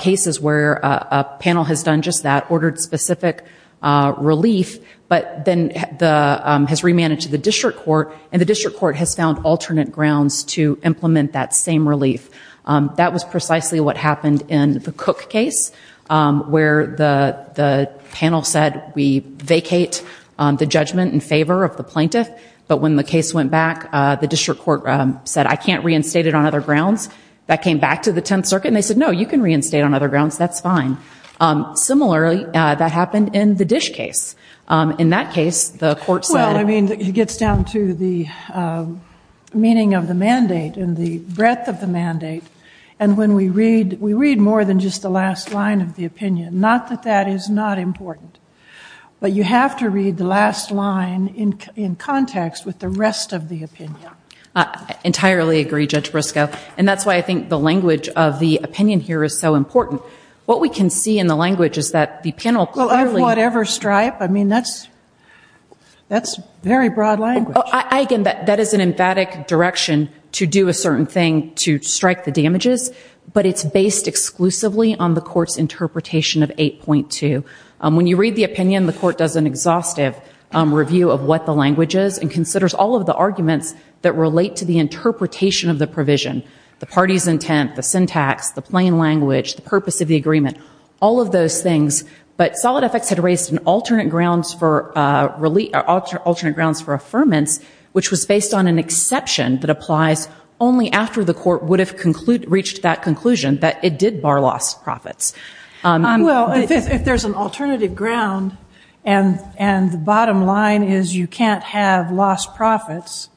cases where a panel has done just that, ordered specific relief, but then has remanaged the district court, and the district court has found alternate grounds to implement that same relief. That was precisely what happened in the Cook case, where the panel said we vacate the judgment in favor of the plaintiff, but when the case went back, the district court said, I can't reinstate it on other grounds. That came back to the Tenth Circuit and they said, no, you can reinstate it on other grounds, that's fine. Similarly, that happened in the Dish case. In that case, the court said- Well, I mean, it gets down to the meaning of the mandate and the breadth of the mandate, and when we read, we read more than just the last line of the opinion. Not that that is not important, but you have to read the last line in context with the rest of the opinion. I entirely agree, Judge Briscoe, and that's why I think the language of the opinion here is so important. What we can see in the language is that the panel clearly- Well, of whatever stripe, I mean, that's very broad language. I, again, that is an emphatic direction to do a certain thing to strike the damages, but it's based exclusively on the court's interpretation of 8.2. When you read the opinion, the court does an exhaustive review of what the language is and considers all of the arguments that relate to the interpretation of the provision, the party's intent, the syntax, the plain language, the purpose of the agreement, all of those things, but solid effects had raised alternate grounds for affirmance, which was based on an exception that applies only after the court would have reached that conclusion that it did bar loss profits. Well, if there's an alternative ground and the bottom line is you can't have lost profits,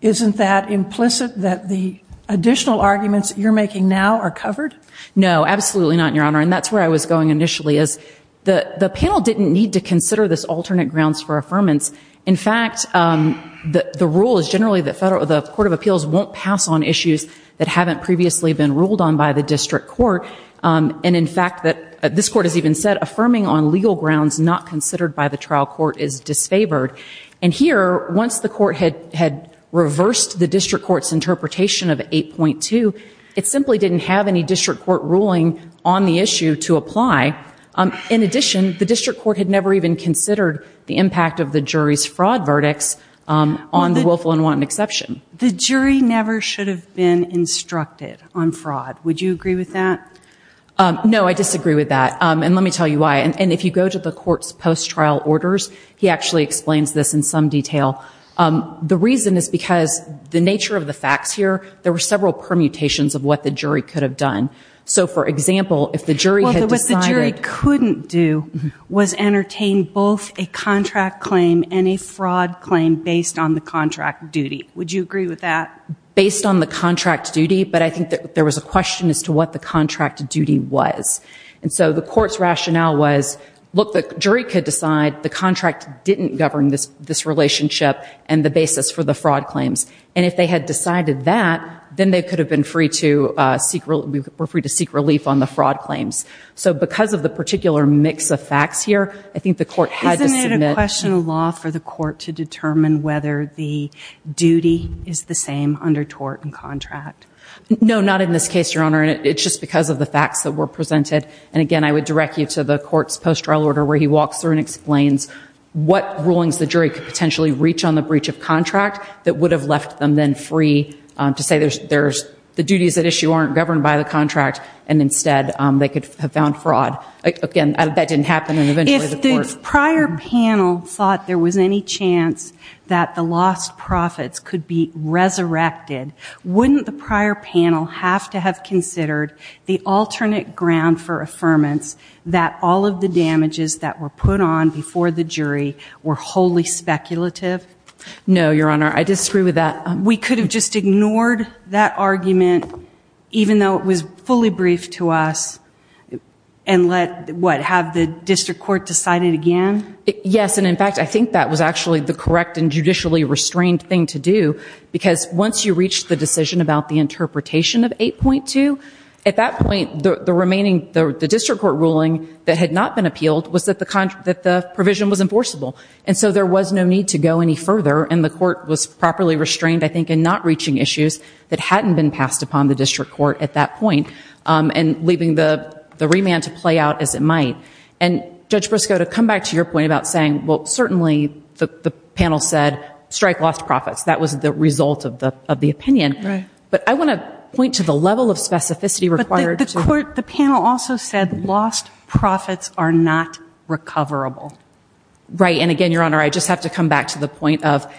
isn't that implicit that the additional arguments that you're making now are covered? No, absolutely not, Your Honor, and that's where I was going initially is the panel didn't need to consider this alternate grounds for affirmance. In fact, the rule is generally that the Court of Appeals won't pass on issues that haven't previously been ruled on by the district court, and in fact, this court has even said affirming on legal grounds not considered by the trial court is disfavored, and here, once the court had reversed the district court's interpretation of 8.2, it simply didn't have any district court ruling on the issue to apply. In addition, the district court had never even considered the impact of the jury's fraud verdicts on the willful and wanton exception. The jury never should have been instructed on fraud. Would you agree with that? No, I disagree with that, and let me tell you why. And if you go to the court's post-trial orders, he actually explains this in some detail. The reason is because the nature of the facts here, there were several permutations of what the jury could have done. So for example, if the jury had decided— Well, what the jury couldn't do was entertain both a contract claim and a fraud claim based on the contract duty. Would you agree with that? Based on the contract duty, but I think that there was a question as to what the contract duty was. And so the court's rationale was, look, the jury could decide the contract didn't govern this relationship and the basis for the fraud claims. And if they had decided that, then they could have been free to seek—were free to seek relief on the fraud claims. So because of the particular mix of facts here, I think the court had to submit— No, not in this case, Your Honor, and it's just because of the facts that were presented. And again, I would direct you to the court's post-trial order, where he walks through and explains what rulings the jury could potentially reach on the breach of contract that would have left them then free to say there's—the duties at issue aren't governed by the contract, and instead they could have found fraud. Again, that didn't happen, and eventually the court— If the prior panel thought there was any chance that the lost profits could have been could be resurrected, wouldn't the prior panel have to have considered the alternate ground for affirmance that all of the damages that were put on before the jury were wholly speculative? No, Your Honor, I disagree with that. We could have just ignored that argument, even though it was fully briefed to us, and let—what, have the district court decide it again? Yes, and in fact, I think that was actually the correct and judicially restrained thing to do, because once you reach the decision about the interpretation of 8.2, at that point, the remaining—the district court ruling that had not been appealed was that the provision was enforceable. And so there was no need to go any further, and the court was properly restrained, I think, in not reaching issues that hadn't been passed upon the district court at that point and leaving the remand to play out as it might. And Judge Brusco, to come back to your point about saying, well, certainly the panel said strike lost profits. That was the result of the opinion. But I want to point to the level of specificity required to— The panel also said lost profits are not recoverable. Right, and again, Your Honor, I just have to come back to the point of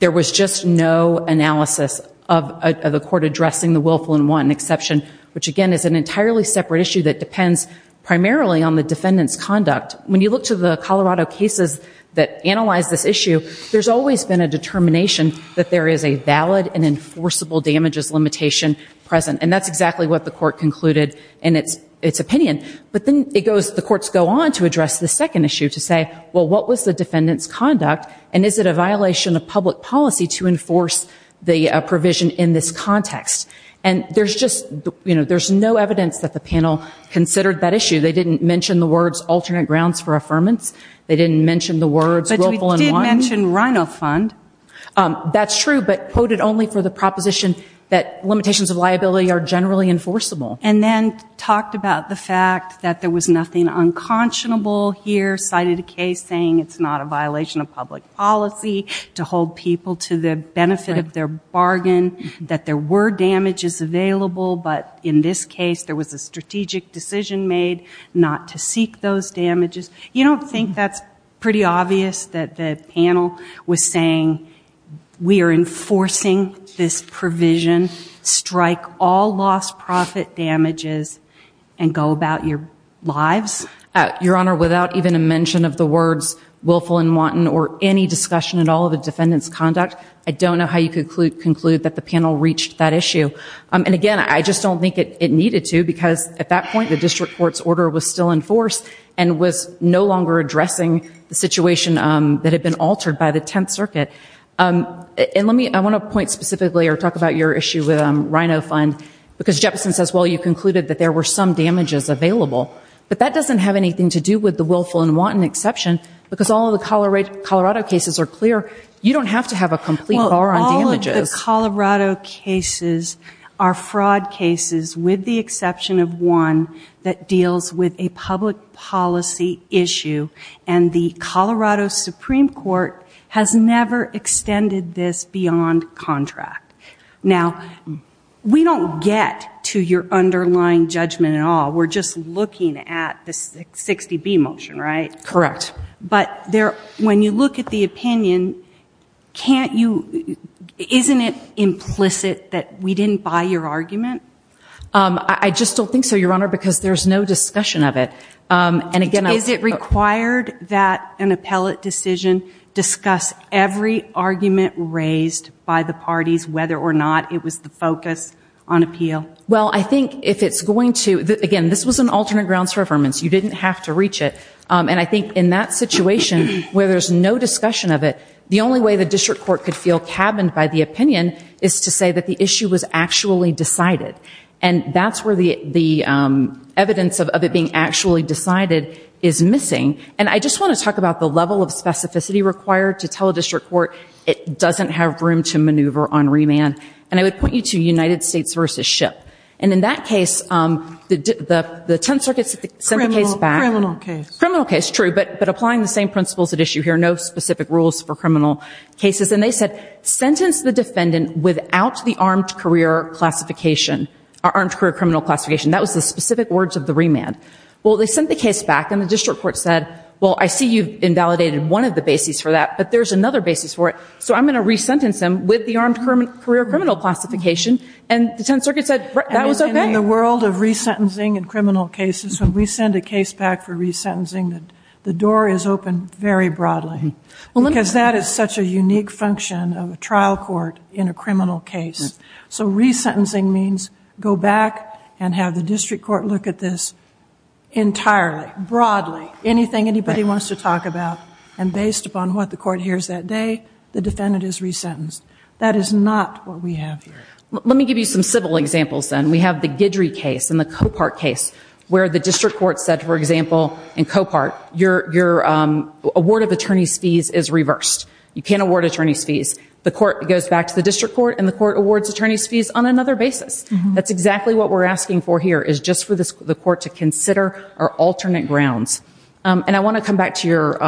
there was just no analysis of the court addressing the willful and wanton exception, which, again, is an entirely separate issue that depends primarily on the defendant's conduct. When you look to the Colorado cases that analyze this issue, there's always been a determination that there is a valid and enforceable damages limitation present. And that's exactly what the court concluded in its opinion. But then it goes—the courts go on to address the second issue to say, well, what was the defendant's conduct, and is it a violation of public policy to enforce the provision in this context? And there's just—you know, there's no evidence that the panel considered that issue. They didn't mention the words alternate grounds for affirmance. They didn't mention the words willful and wanton. But we did mention RINO fund. That's true, but quoted only for the proposition that limitations of liability are generally enforceable. And then talked about the fact that there was nothing unconscionable here, cited a case saying it's not a violation of public policy to hold people to the benefit of their bargain, that there were damages available, but in this case, there was a strategic decision made not to seek those damages. You don't think that's pretty obvious that the panel was saying we are enforcing this provision, strike all lost profit damages, and go about your lives? Your Honor, without even a mention of the words willful and wanton or any discussion at all of the defendant's conduct, I don't know how you can conclude that the panel reached that issue. And again, I just don't think it needed to, because at that point, the district court's order was still in force and was no longer addressing the situation that had been altered by the Tenth Circuit. And let me—I want to point specifically or talk about your issue with RINO fund, because Jefferson says, well, you concluded that there were some damages available. But that doesn't have anything to do with the willful and wanton exception, because all of the Colorado cases are clear. You don't have to have a complete bar on damages. Well, all of the Colorado cases are fraud cases, with the exception of one that deals with a public policy issue, and the Colorado Supreme Court has never extended this beyond contract. Now, we don't get to your underlying judgment at all. We're just looking at the 60B motion, right? Correct. But when you look at the opinion, can't you—isn't it implicit that we didn't buy your argument? I just don't think so, Your Honor, because there's no discussion of it. And again— Is it required that an appellate decision discuss every argument raised by the parties, whether or not it was the focus on appeal? Well, I think if it's going to—again, this was an alternate grounds for affirmance. You didn't have to reach it. And I think in that situation, where there's no discussion of it, the only way the district court could feel cabined by the opinion is to say that the issue was actually decided. And that's where the evidence of it being actually decided is missing. And I just want to talk about the level of specificity required to tell a district court it doesn't have room to maneuver on remand. And I would point you to United States v. SHIP. And in that case, the Tenth Circuit sent the case back— criminal case, true, but applying the same principles at issue here, no specific rules for criminal cases. And they said, sentence the defendant without the armed career classification, armed career criminal classification. That was the specific words of the remand. Well, they sent the case back, and the district court said, well, I see you've invalidated one of the bases for that, but there's another basis for it. So I'm going to re-sentence him with the armed career criminal classification. And the Tenth Circuit said, that was okay. In the world of re-sentencing in criminal cases, when we send a case back for re-sentencing, the door is open very broadly, because that is such a unique function of a trial court in a criminal case. So re-sentencing means go back and have the district court look at this entirely, broadly, anything anybody wants to talk about. And based upon what the court hears that day, the defendant is re-sentenced. That is not what we have here. Let me give you some civil examples, then. We have the Guidry case and the Copart case, where the district court said, for example, in Copart, your award of attorney's fees is reversed. You can't award attorney's fees. The court goes back to the district court, and the court awards attorney's fees on another basis. That's exactly what we're asking for here, is just for the court to consider our alternate grounds. And I want to come back to your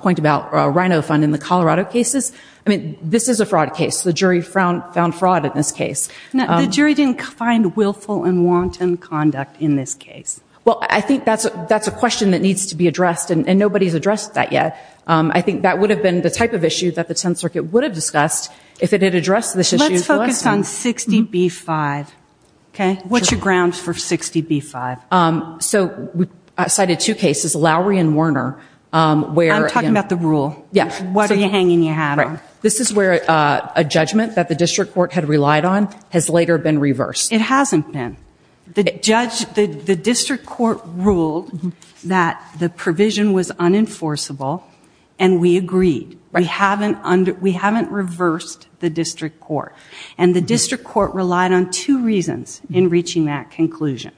point about Rhino Fund in the Colorado cases. This is a fraud case. The jury found fraud in this case. The jury didn't find willful and wanton conduct in this case. Well, I think that's a question that needs to be addressed, and nobody's addressed that yet. I think that would have been the type of issue that the Tenth Circuit would have discussed if it had addressed this issue. Let's focus on 60B-5. What's your grounds for 60B-5? So we cited two cases, Lowry and Warner, where... I'm talking about the rule. What are you hanging your hat on? This is where a judgment that the district court had relied on has later been reversed. It hasn't been. The district court ruled that the provision was unenforceable, and we agreed. We haven't reversed the district court. And the district court relied on two reasons in reaching that conclusion.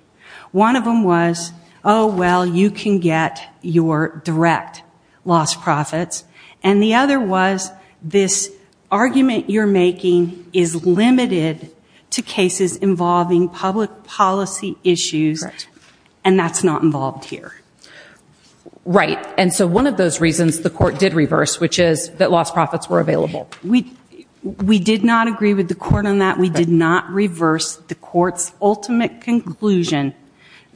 One of them was, oh, well, you can get your direct lost profits. And the other was, this argument you're making is limited to cases involving public policy issues, and that's not involved here. Right. And so one of those reasons the court did reverse, which is that lost profits were available. We did not agree with the court on that. We did not reverse the court's ultimate conclusion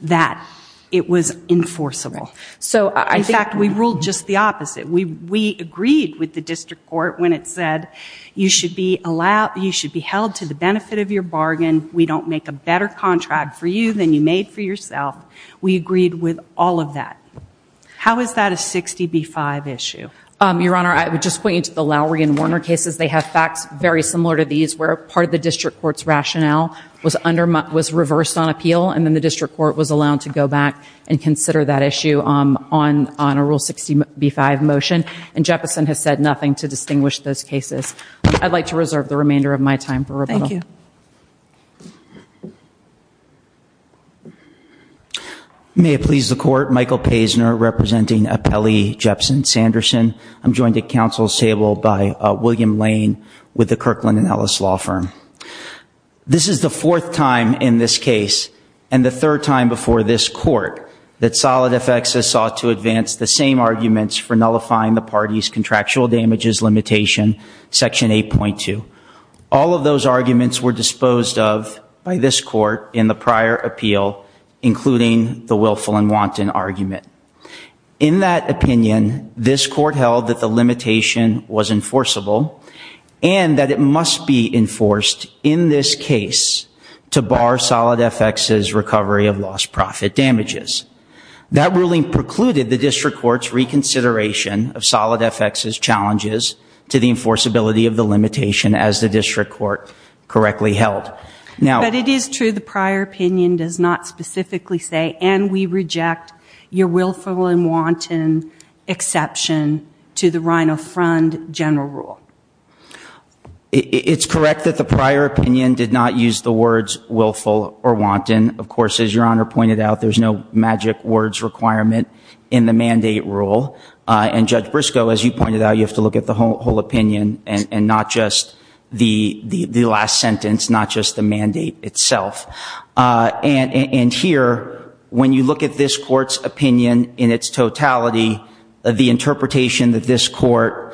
that it was enforceable. So in fact, we ruled just the opposite. We agreed with the district court when it said, you should be held to the benefit of your bargain. We don't make a better contract for you than you made for yourself. We agreed with all of that. How is that a 60B-5 issue? Your Honor, I would just point you to the Lowry and Warner cases. They have facts very similar to these, where part of the district court's rationale was reversed on appeal, and then the district court was allowed to go back and consider that issue on a Rule 60B-5 motion. And Jeppesen has said nothing to distinguish those cases. I'd like to reserve the remainder of my time for rebuttal. Thank you. May it please the court, Michael Paisner representing Appellee Jeppesen Sanderson. I'm joined at counsel's table by William Lane with the Kirkland & Ellis Law Firm. This is the fourth time in this case, and the third time before this court, that solid effects has sought to advance the same arguments for nullifying the party's contractual damages limitation, section 8.2. All of those arguments were disposed of by this court in the prior appeal, including the willful and wanton argument. In that opinion, this court held that the limitation was enforceable, and that it must be enforced in this case to bar solid effects' recovery of lost profit damages. That ruling precluded the district court's reconsideration of solid effects' challenges to the enforceability of the limitation as the district court correctly held. But it is true the prior opinion does not specifically say, and we reject your willful and wanton exception to the Rhino-Frund general rule. It's correct that the prior opinion did not use the words willful or wanton. Of course, as Your Honor pointed out, there's no magic words requirement in the mandate rule. And Judge Briscoe, as you pointed out, you have to look at the whole opinion and not just the last sentence, not just the mandate itself. And here, when you look at this court's opinion in its totality, the interpretation that this the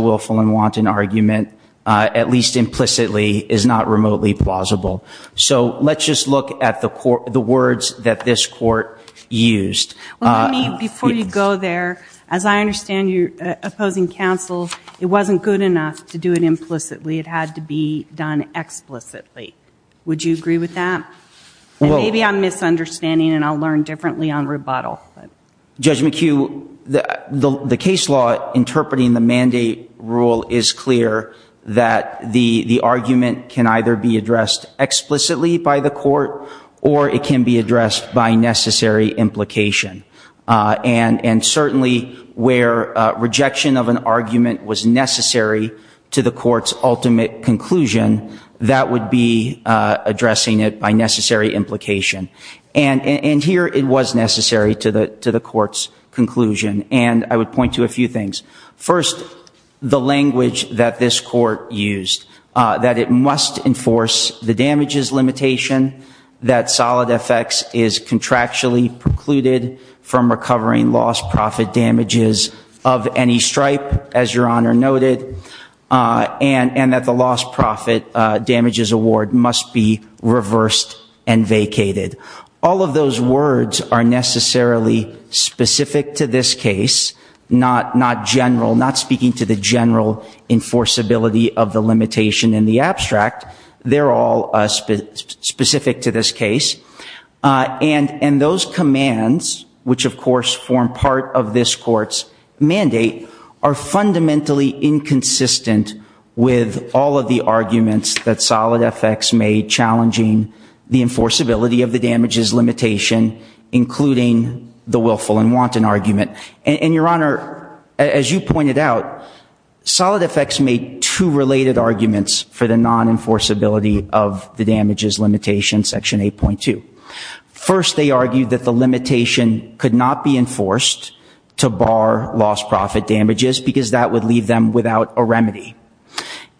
willful and wanton argument, at least implicitly, is not remotely plausible. So let's just look at the words that this court used. Well, let me, before you go there, as I understand your opposing counsel, it wasn't good enough to do it implicitly. It had to be done explicitly. Would you agree with that? And maybe I'm misunderstanding, and I'll learn differently on rebuttal. Judge McHugh, the case law interpreting the mandate rule is clear that the argument can either be addressed explicitly by the court or it can be addressed by necessary implication. And certainly, where rejection of an argument was necessary to the court's ultimate conclusion, that would be addressing it by necessary implication. And here, it was necessary to the court's conclusion. And I would point to a few things. First, the language that this court used, that it must enforce the damages limitation, that solid effects is contractually precluded from recovering lost profit damages of any All of those words are necessarily specific to this case, not speaking to the general enforceability of the limitation in the abstract. They're all specific to this case. And those commands, which, of course, form part of this court's mandate, are fundamentally inconsistent with all of the arguments that solid effects made challenging the enforceability of the damages limitation, including the willful and wanton argument. And Your Honor, as you pointed out, solid effects made two related arguments for the non-enforceability of the damages limitation, section 8.2. First, they argued that the limitation could not be enforced to bar lost profit damages because that would leave them without a remedy.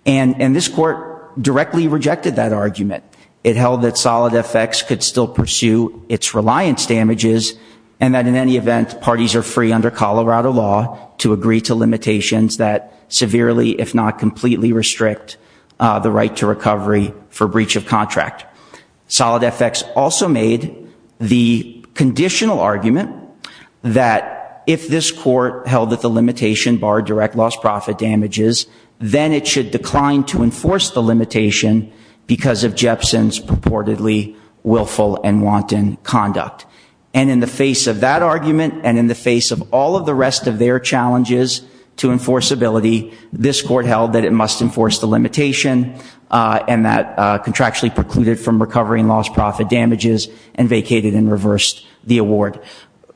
And this court directly rejected that argument. It held that solid effects could still pursue its reliance damages, and that in any event, parties are free under Colorado law to agree to limitations that severely, if not completely, restrict the right to recovery for breach of contract. Solid effects also made the conditional argument that if this court held that the limitation barred direct lost profit damages, then it should decline to enforce the limitation because of Jepson's purportedly willful and wanton conduct. And in the face of that argument, and in the face of all of the rest of their challenges to enforceability, this court held that it must enforce the limitation, and that contractually precluded from recovering lost profit damages, and vacated and reversed the award.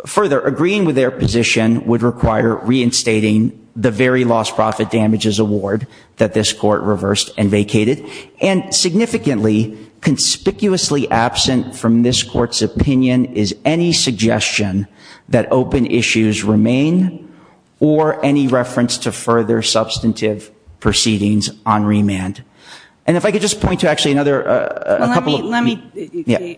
Further, agreeing with their position would require reinstating the very lost profit damages award that this court reversed and vacated. And significantly, conspicuously absent from this court's opinion is any suggestion that open issues remain, or any reference to further substantive proceedings on remand. And if I could just point to actually another, a couple of, yeah.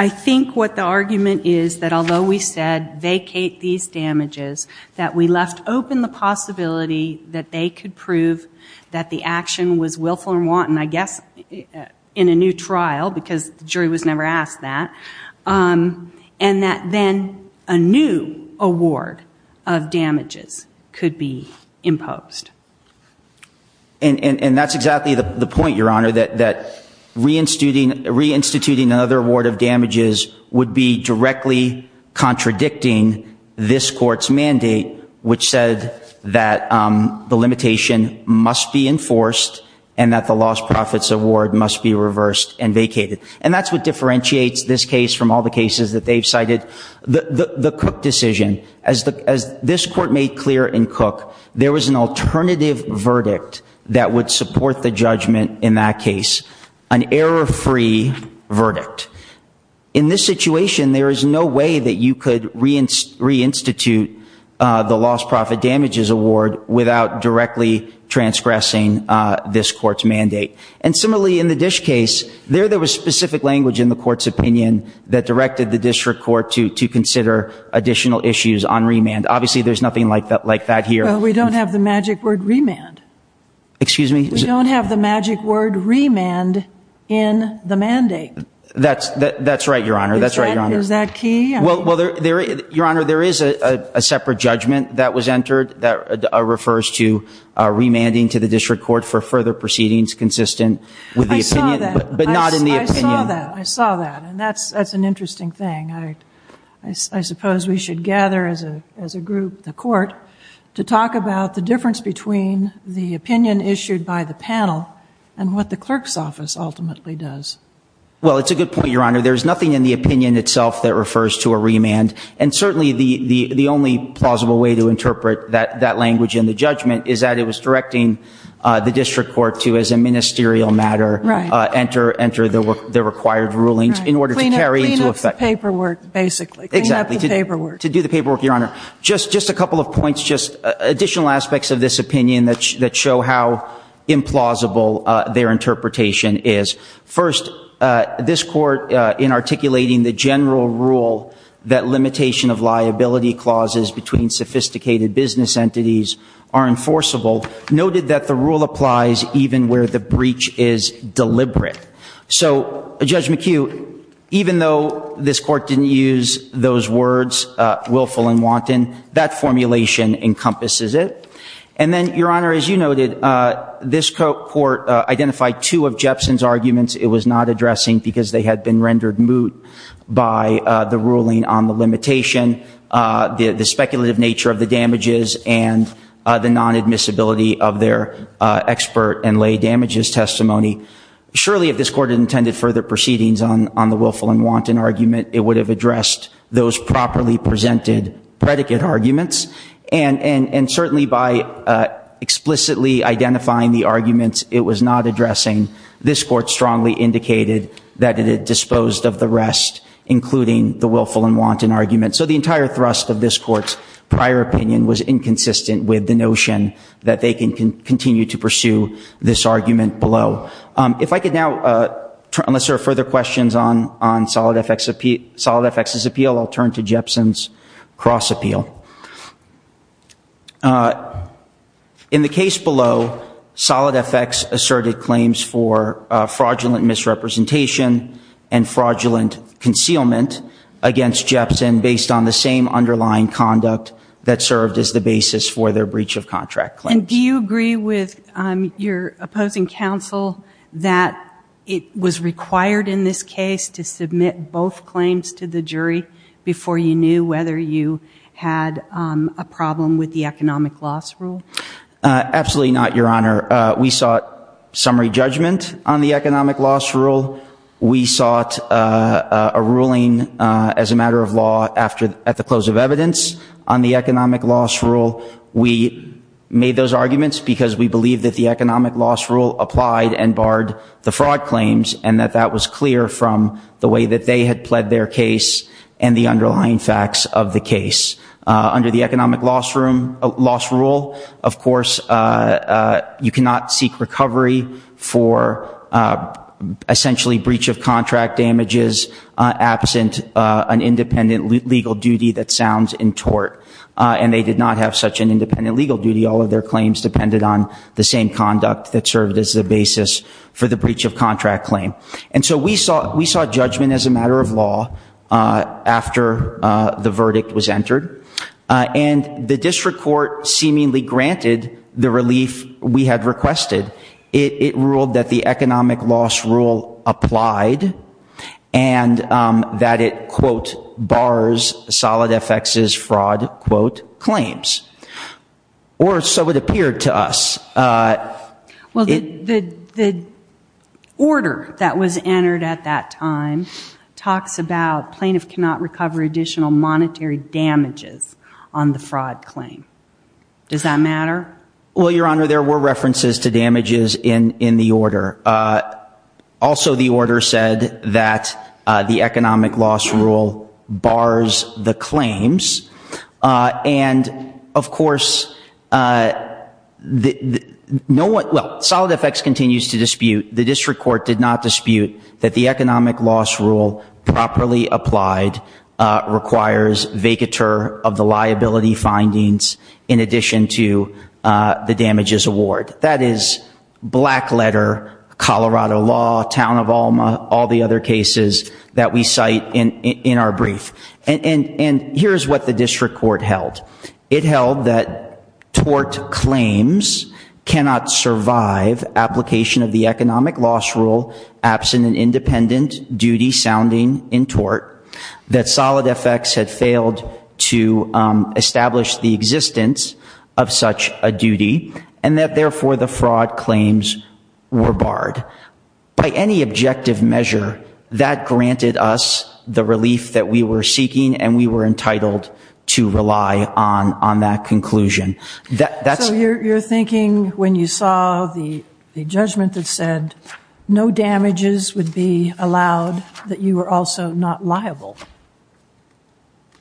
I think what the argument is that although we said vacate these damages, that we left open the possibility that they could prove that the action was willful and wanton, I guess in a new trial, because the jury was never asked that, and that then a new award of damages could be imposed. And that's exactly the point, Your Honor, that reinstituting another award of damages would be directly contradicting this court's mandate, which said that the limitation must be enforced, and that the lost profits award must be reversed and vacated. And that's what differentiates this case from all the cases that they've cited. The Cook decision, as this court made clear in Cook, there was an alternative verdict that would support the judgment in that case, an error-free verdict. In this situation, there is no way that you could reinstitute the lost profit damages award without directly transgressing this court's mandate. And similarly, in the Dish case, there was specific language in the court's opinion that directed the district court to consider additional issues on remand. Obviously there's nothing like that here. We don't have the magic word remand in the mandate. That's right, Your Honor. Is that key? Well, Your Honor, there is a separate judgment that was entered that refers to remanding to the district court for further proceedings consistent with the opinion, but not in the opinion. I saw that. I saw that. And that's an interesting thing. I suppose we should gather as a group, the court, to talk about the difference between the opinion issued by the panel and what the clerk's office ultimately does. Well, it's a good point, Your Honor. There's nothing in the opinion itself that refers to a remand. And certainly the only plausible way to interpret that language in the judgment is that it was directing the district court to, as a ministerial matter, enter the required rulings in order to carry into effect. Clean up the paperwork, basically. Exactly. Clean up the paperwork. To do the paperwork, Your Honor. Just a couple of points, just additional aspects of this opinion that show how implausible their interpretation is. First, this court, in articulating the general rule that limitation of liability clauses between sophisticated business entities are enforceable, noted that the rule applies even where the breach is deliberate. So Judge McHugh, even though this court didn't use those words, willful and wanton, that formulation encompasses it. And then, Your Honor, as you noted, this court identified two of Jepson's arguments it was not addressing because they had been rendered moot by the ruling on the limitation, the speculative nature of the damages, and the non-admissibility of their expert and lay damages testimony. Surely if this court had intended further proceedings on the willful and wanton argument, it would have addressed those properly presented predicate arguments. And certainly by explicitly identifying the arguments it was not addressing, this court strongly indicated that it had disposed of the rest, including the willful and wanton argument. So the entire thrust of this court's prior opinion was inconsistent with the notion that they can continue to pursue this argument below. If I could now, unless there are further questions on Solid FX's appeal, I'll turn to Jepson's cross appeal. In the case below, Solid FX asserted claims for fraudulent misrepresentation and fraudulent concealment against Jepson based on the same underlying conduct that served as the basis for their breach of contract claims. And do you agree with your opposing counsel that it was required in this case to submit both claims to the jury before you knew whether you had a problem with the economic loss rule? Absolutely not, Your Honor. We sought summary judgment on the economic loss rule. We sought a ruling as a matter of law at the close of evidence on the economic loss rule. We made those arguments because we believe that the economic loss rule applied and barred the fraud claims and that that was clear from the way that they had pled their case and the underlying facts of the case. Under the economic loss rule, of course, you cannot seek recovery for essentially breach of contract damages absent an independent legal duty that sounds in tort. And they did not have such an independent legal duty. All of their claims depended on the same conduct that served as the basis for the breach of contract claim. And so we saw judgment as a matter of law after the verdict was entered. And the district court seemingly granted the relief we had requested. It ruled that the economic loss rule applied and that it, quote, bars Solid FX's fraud, quote, claims. Or so it appeared to us. Well, the order that was entered at that time talks about plaintiff cannot recover additional monetary damages on the fraud claim. Does that matter? Well, Your Honor, there were references to damages in the order. Also, the order said that the economic loss rule bars the claims. And, of course, no one, well, Solid FX continues to dispute, the district court did not dispute that the economic loss rule properly applied requires vacatur of the liability findings in addition to the damages award. That is black letter, Colorado law, town of Alma, all the other cases that we cite in our brief. And here's what the district court held. It held that tort claims cannot survive application of the economic loss rule absent an independent duty sounding in tort, that Solid FX had failed to establish the existence of such a duty, and that, therefore, the fraud claims were barred. By any objective measure, that granted us the relief that we were seeking, and we were entitled to rely on that conclusion. So, you're thinking when you saw the judgment that said no damages would be allowed, that you were also not liable?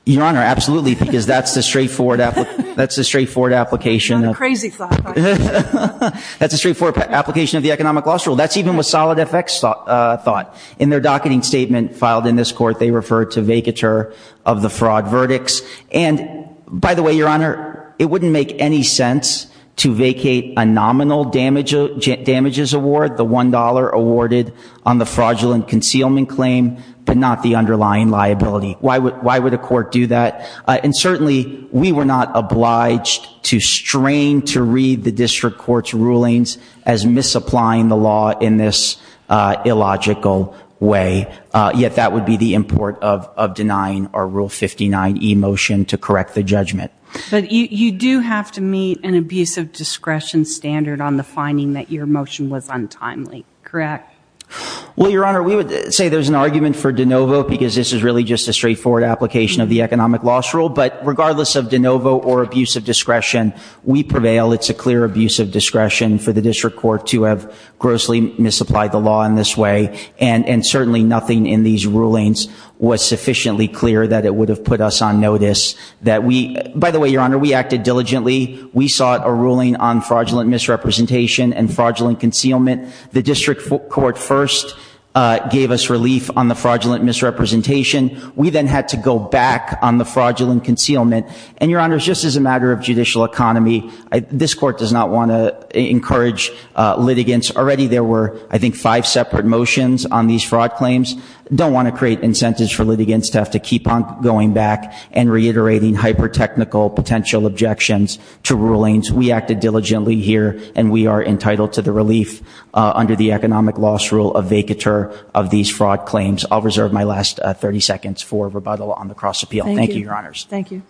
Your Honor, absolutely, because that's the straightforward application of the economic loss rule. That's even what Solid FX thought. In their docketing statement filed in this court, they referred to vacatur of the fraud verdicts. And, by the way, Your Honor, it wouldn't make any sense to vacate a nominal damages award, the $1 awarded on the fraudulent concealment claim, but not the underlying liability. Why would a court do that? And certainly, we were not obliged to strain to read the district court's rulings as misapplying the law in this illogical way, yet that would be the import of denying our Rule 59e motion to correct the judgment. But you do have to meet an abuse of discretion standard on the finding that your motion was untimely, correct? Well, Your Honor, we would say there's an argument for de novo, because this is really just a straightforward application of the economic loss rule. But regardless of de novo or abuse of discretion, we prevail. It's a clear abuse of discretion for the district court to have grossly misapplied the law in this way. And certainly, nothing in these rulings was sufficiently clear that it would have put us on notice. By the way, Your Honor, we acted diligently. We sought a ruling on fraudulent misrepresentation and fraudulent concealment. The district court first gave us relief on the fraudulent misrepresentation. We then had to go back on the fraudulent concealment. And Your Honor, just as a matter of judicial economy, this court does not want to encourage litigants. Already, there were, I think, five separate motions on these fraud claims. Don't want to create incentives for litigants to have to keep on going back and reiterating hyper-technical potential objections to rulings. We acted diligently here, and we are entitled to the relief under the economic loss rule of vacatur of these fraud claims. I'll reserve my last 30 seconds for rebuttal on the cross-appeal. Thank you, Your Honors. Thank you very much.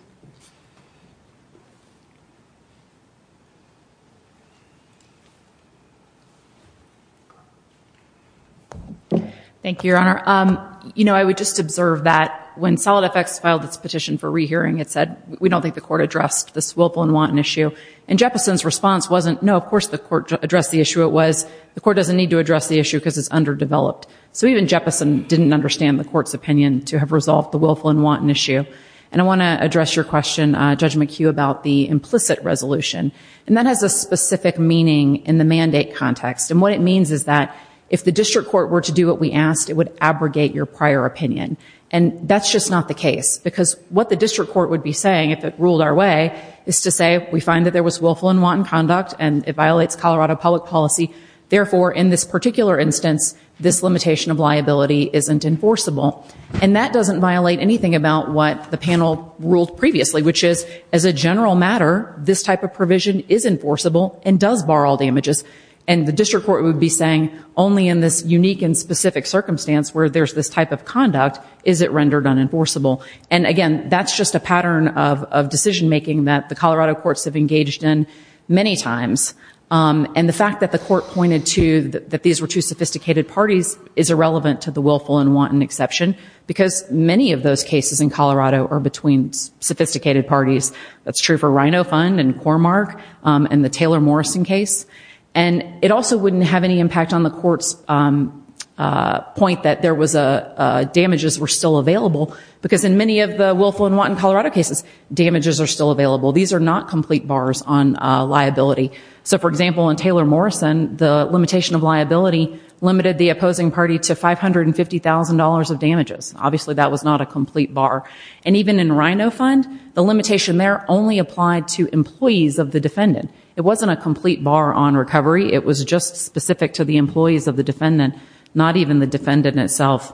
Thank you. Thank you, Your Honor. You know, I would just observe that when Solid Effects filed its petition for rehearing, it said, we don't think the court addressed this willful and wanton issue. And Jeppesen's response wasn't, no, of course the court addressed the issue. It was, the court doesn't need to address the issue because it's underdeveloped. So even Jeppesen didn't understand the court's opinion to have resolved the willful and wanton issue. And I want to address your question, Judge McHugh, about the implicit resolution. And that has a specific meaning in the mandate context. And what it means is that if the district court were to do what we asked, it would abrogate your prior opinion. And that's just not the case, because what the district court would be saying if it ruled our way is to say, we find that there was willful and wanton conduct, and it violates Colorado public policy. Therefore, in this particular instance, this limitation of liability isn't enforceable. And that doesn't violate anything about what the panel ruled previously, which is, as a general matter, this type of provision is enforceable and does bar all damages. And the district court would be saying, only in this unique and specific circumstance where there's this type of conduct is it rendered unenforceable. And again, that's just a pattern of decision making that the Colorado courts have engaged in many times. And the fact that the court pointed to that these were two sophisticated parties is irrelevant to the willful and wanton exception, because many of those cases in Colorado are between sophisticated parties. That's true for Rhino Fund and Cormark and the Taylor Morrison case. And it also wouldn't have any impact on the court's point that damages were still available, because in many of the willful and wanton Colorado cases, damages are still available. These are not complete bars on liability. So for example, in Taylor Morrison, the limitation of liability limited the opposing party to $550,000 of damages. Obviously that was not a complete bar. And even in Rhino Fund, the limitation there only applied to employees of the defendant. It wasn't a complete bar on recovery. It was just specific to the employees of the defendant, not even the defendant itself.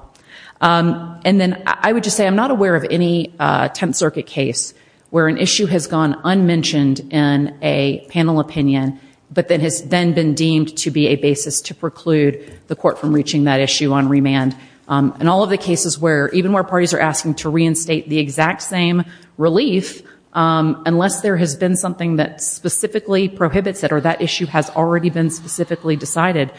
And then I would just say I'm not aware of any Tenth Circuit case where an issue has gone unmentioned in a panel opinion, but that has then been deemed to be a basis to preclude the court from reaching that issue on remand. And all of the cases where, even where parties are asking to reinstate the exact same relief, unless there has been something that specifically prohibits it or that issue has already been specifically decided,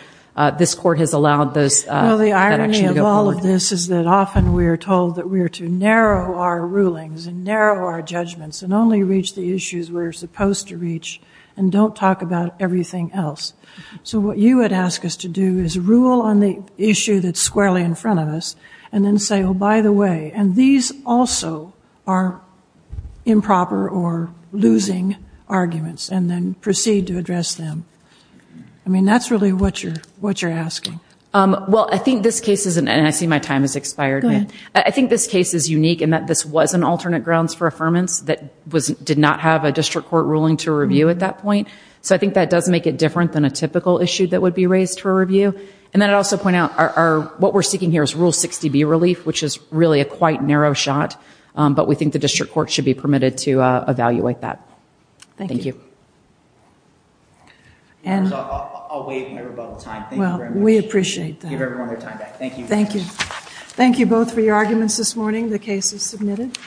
this court has allowed those that actually go forward. Well, the irony of all of this is that often we are told that we are to narrow our rulings and narrow our judgments and only reach the issues we're supposed to reach and don't talk about everything else. So what you would ask us to do is rule on the issue that's squarely in front of us and then say, oh, by the way, and these also are improper or losing arguments, and then proceed to address them. I mean, that's really what you're asking. Well, I think this case is, and I see my time has expired, I think this case is unique in that this was an alternate grounds for affirmance that did not have a district court ruling to review at that point. So I think that does make it different than a typical issue that would be raised for review. And then I'd also point out what we're seeking here is Rule 60B relief, which is really a quite narrow shot, but we think the district court should be permitted to evaluate that. Thank you. I'll waive my rebuttal time, thank you very much. We appreciate that. Give everyone their time back. Thank you. Thank you. Thank you both for your arguments this morning. The case is submitted.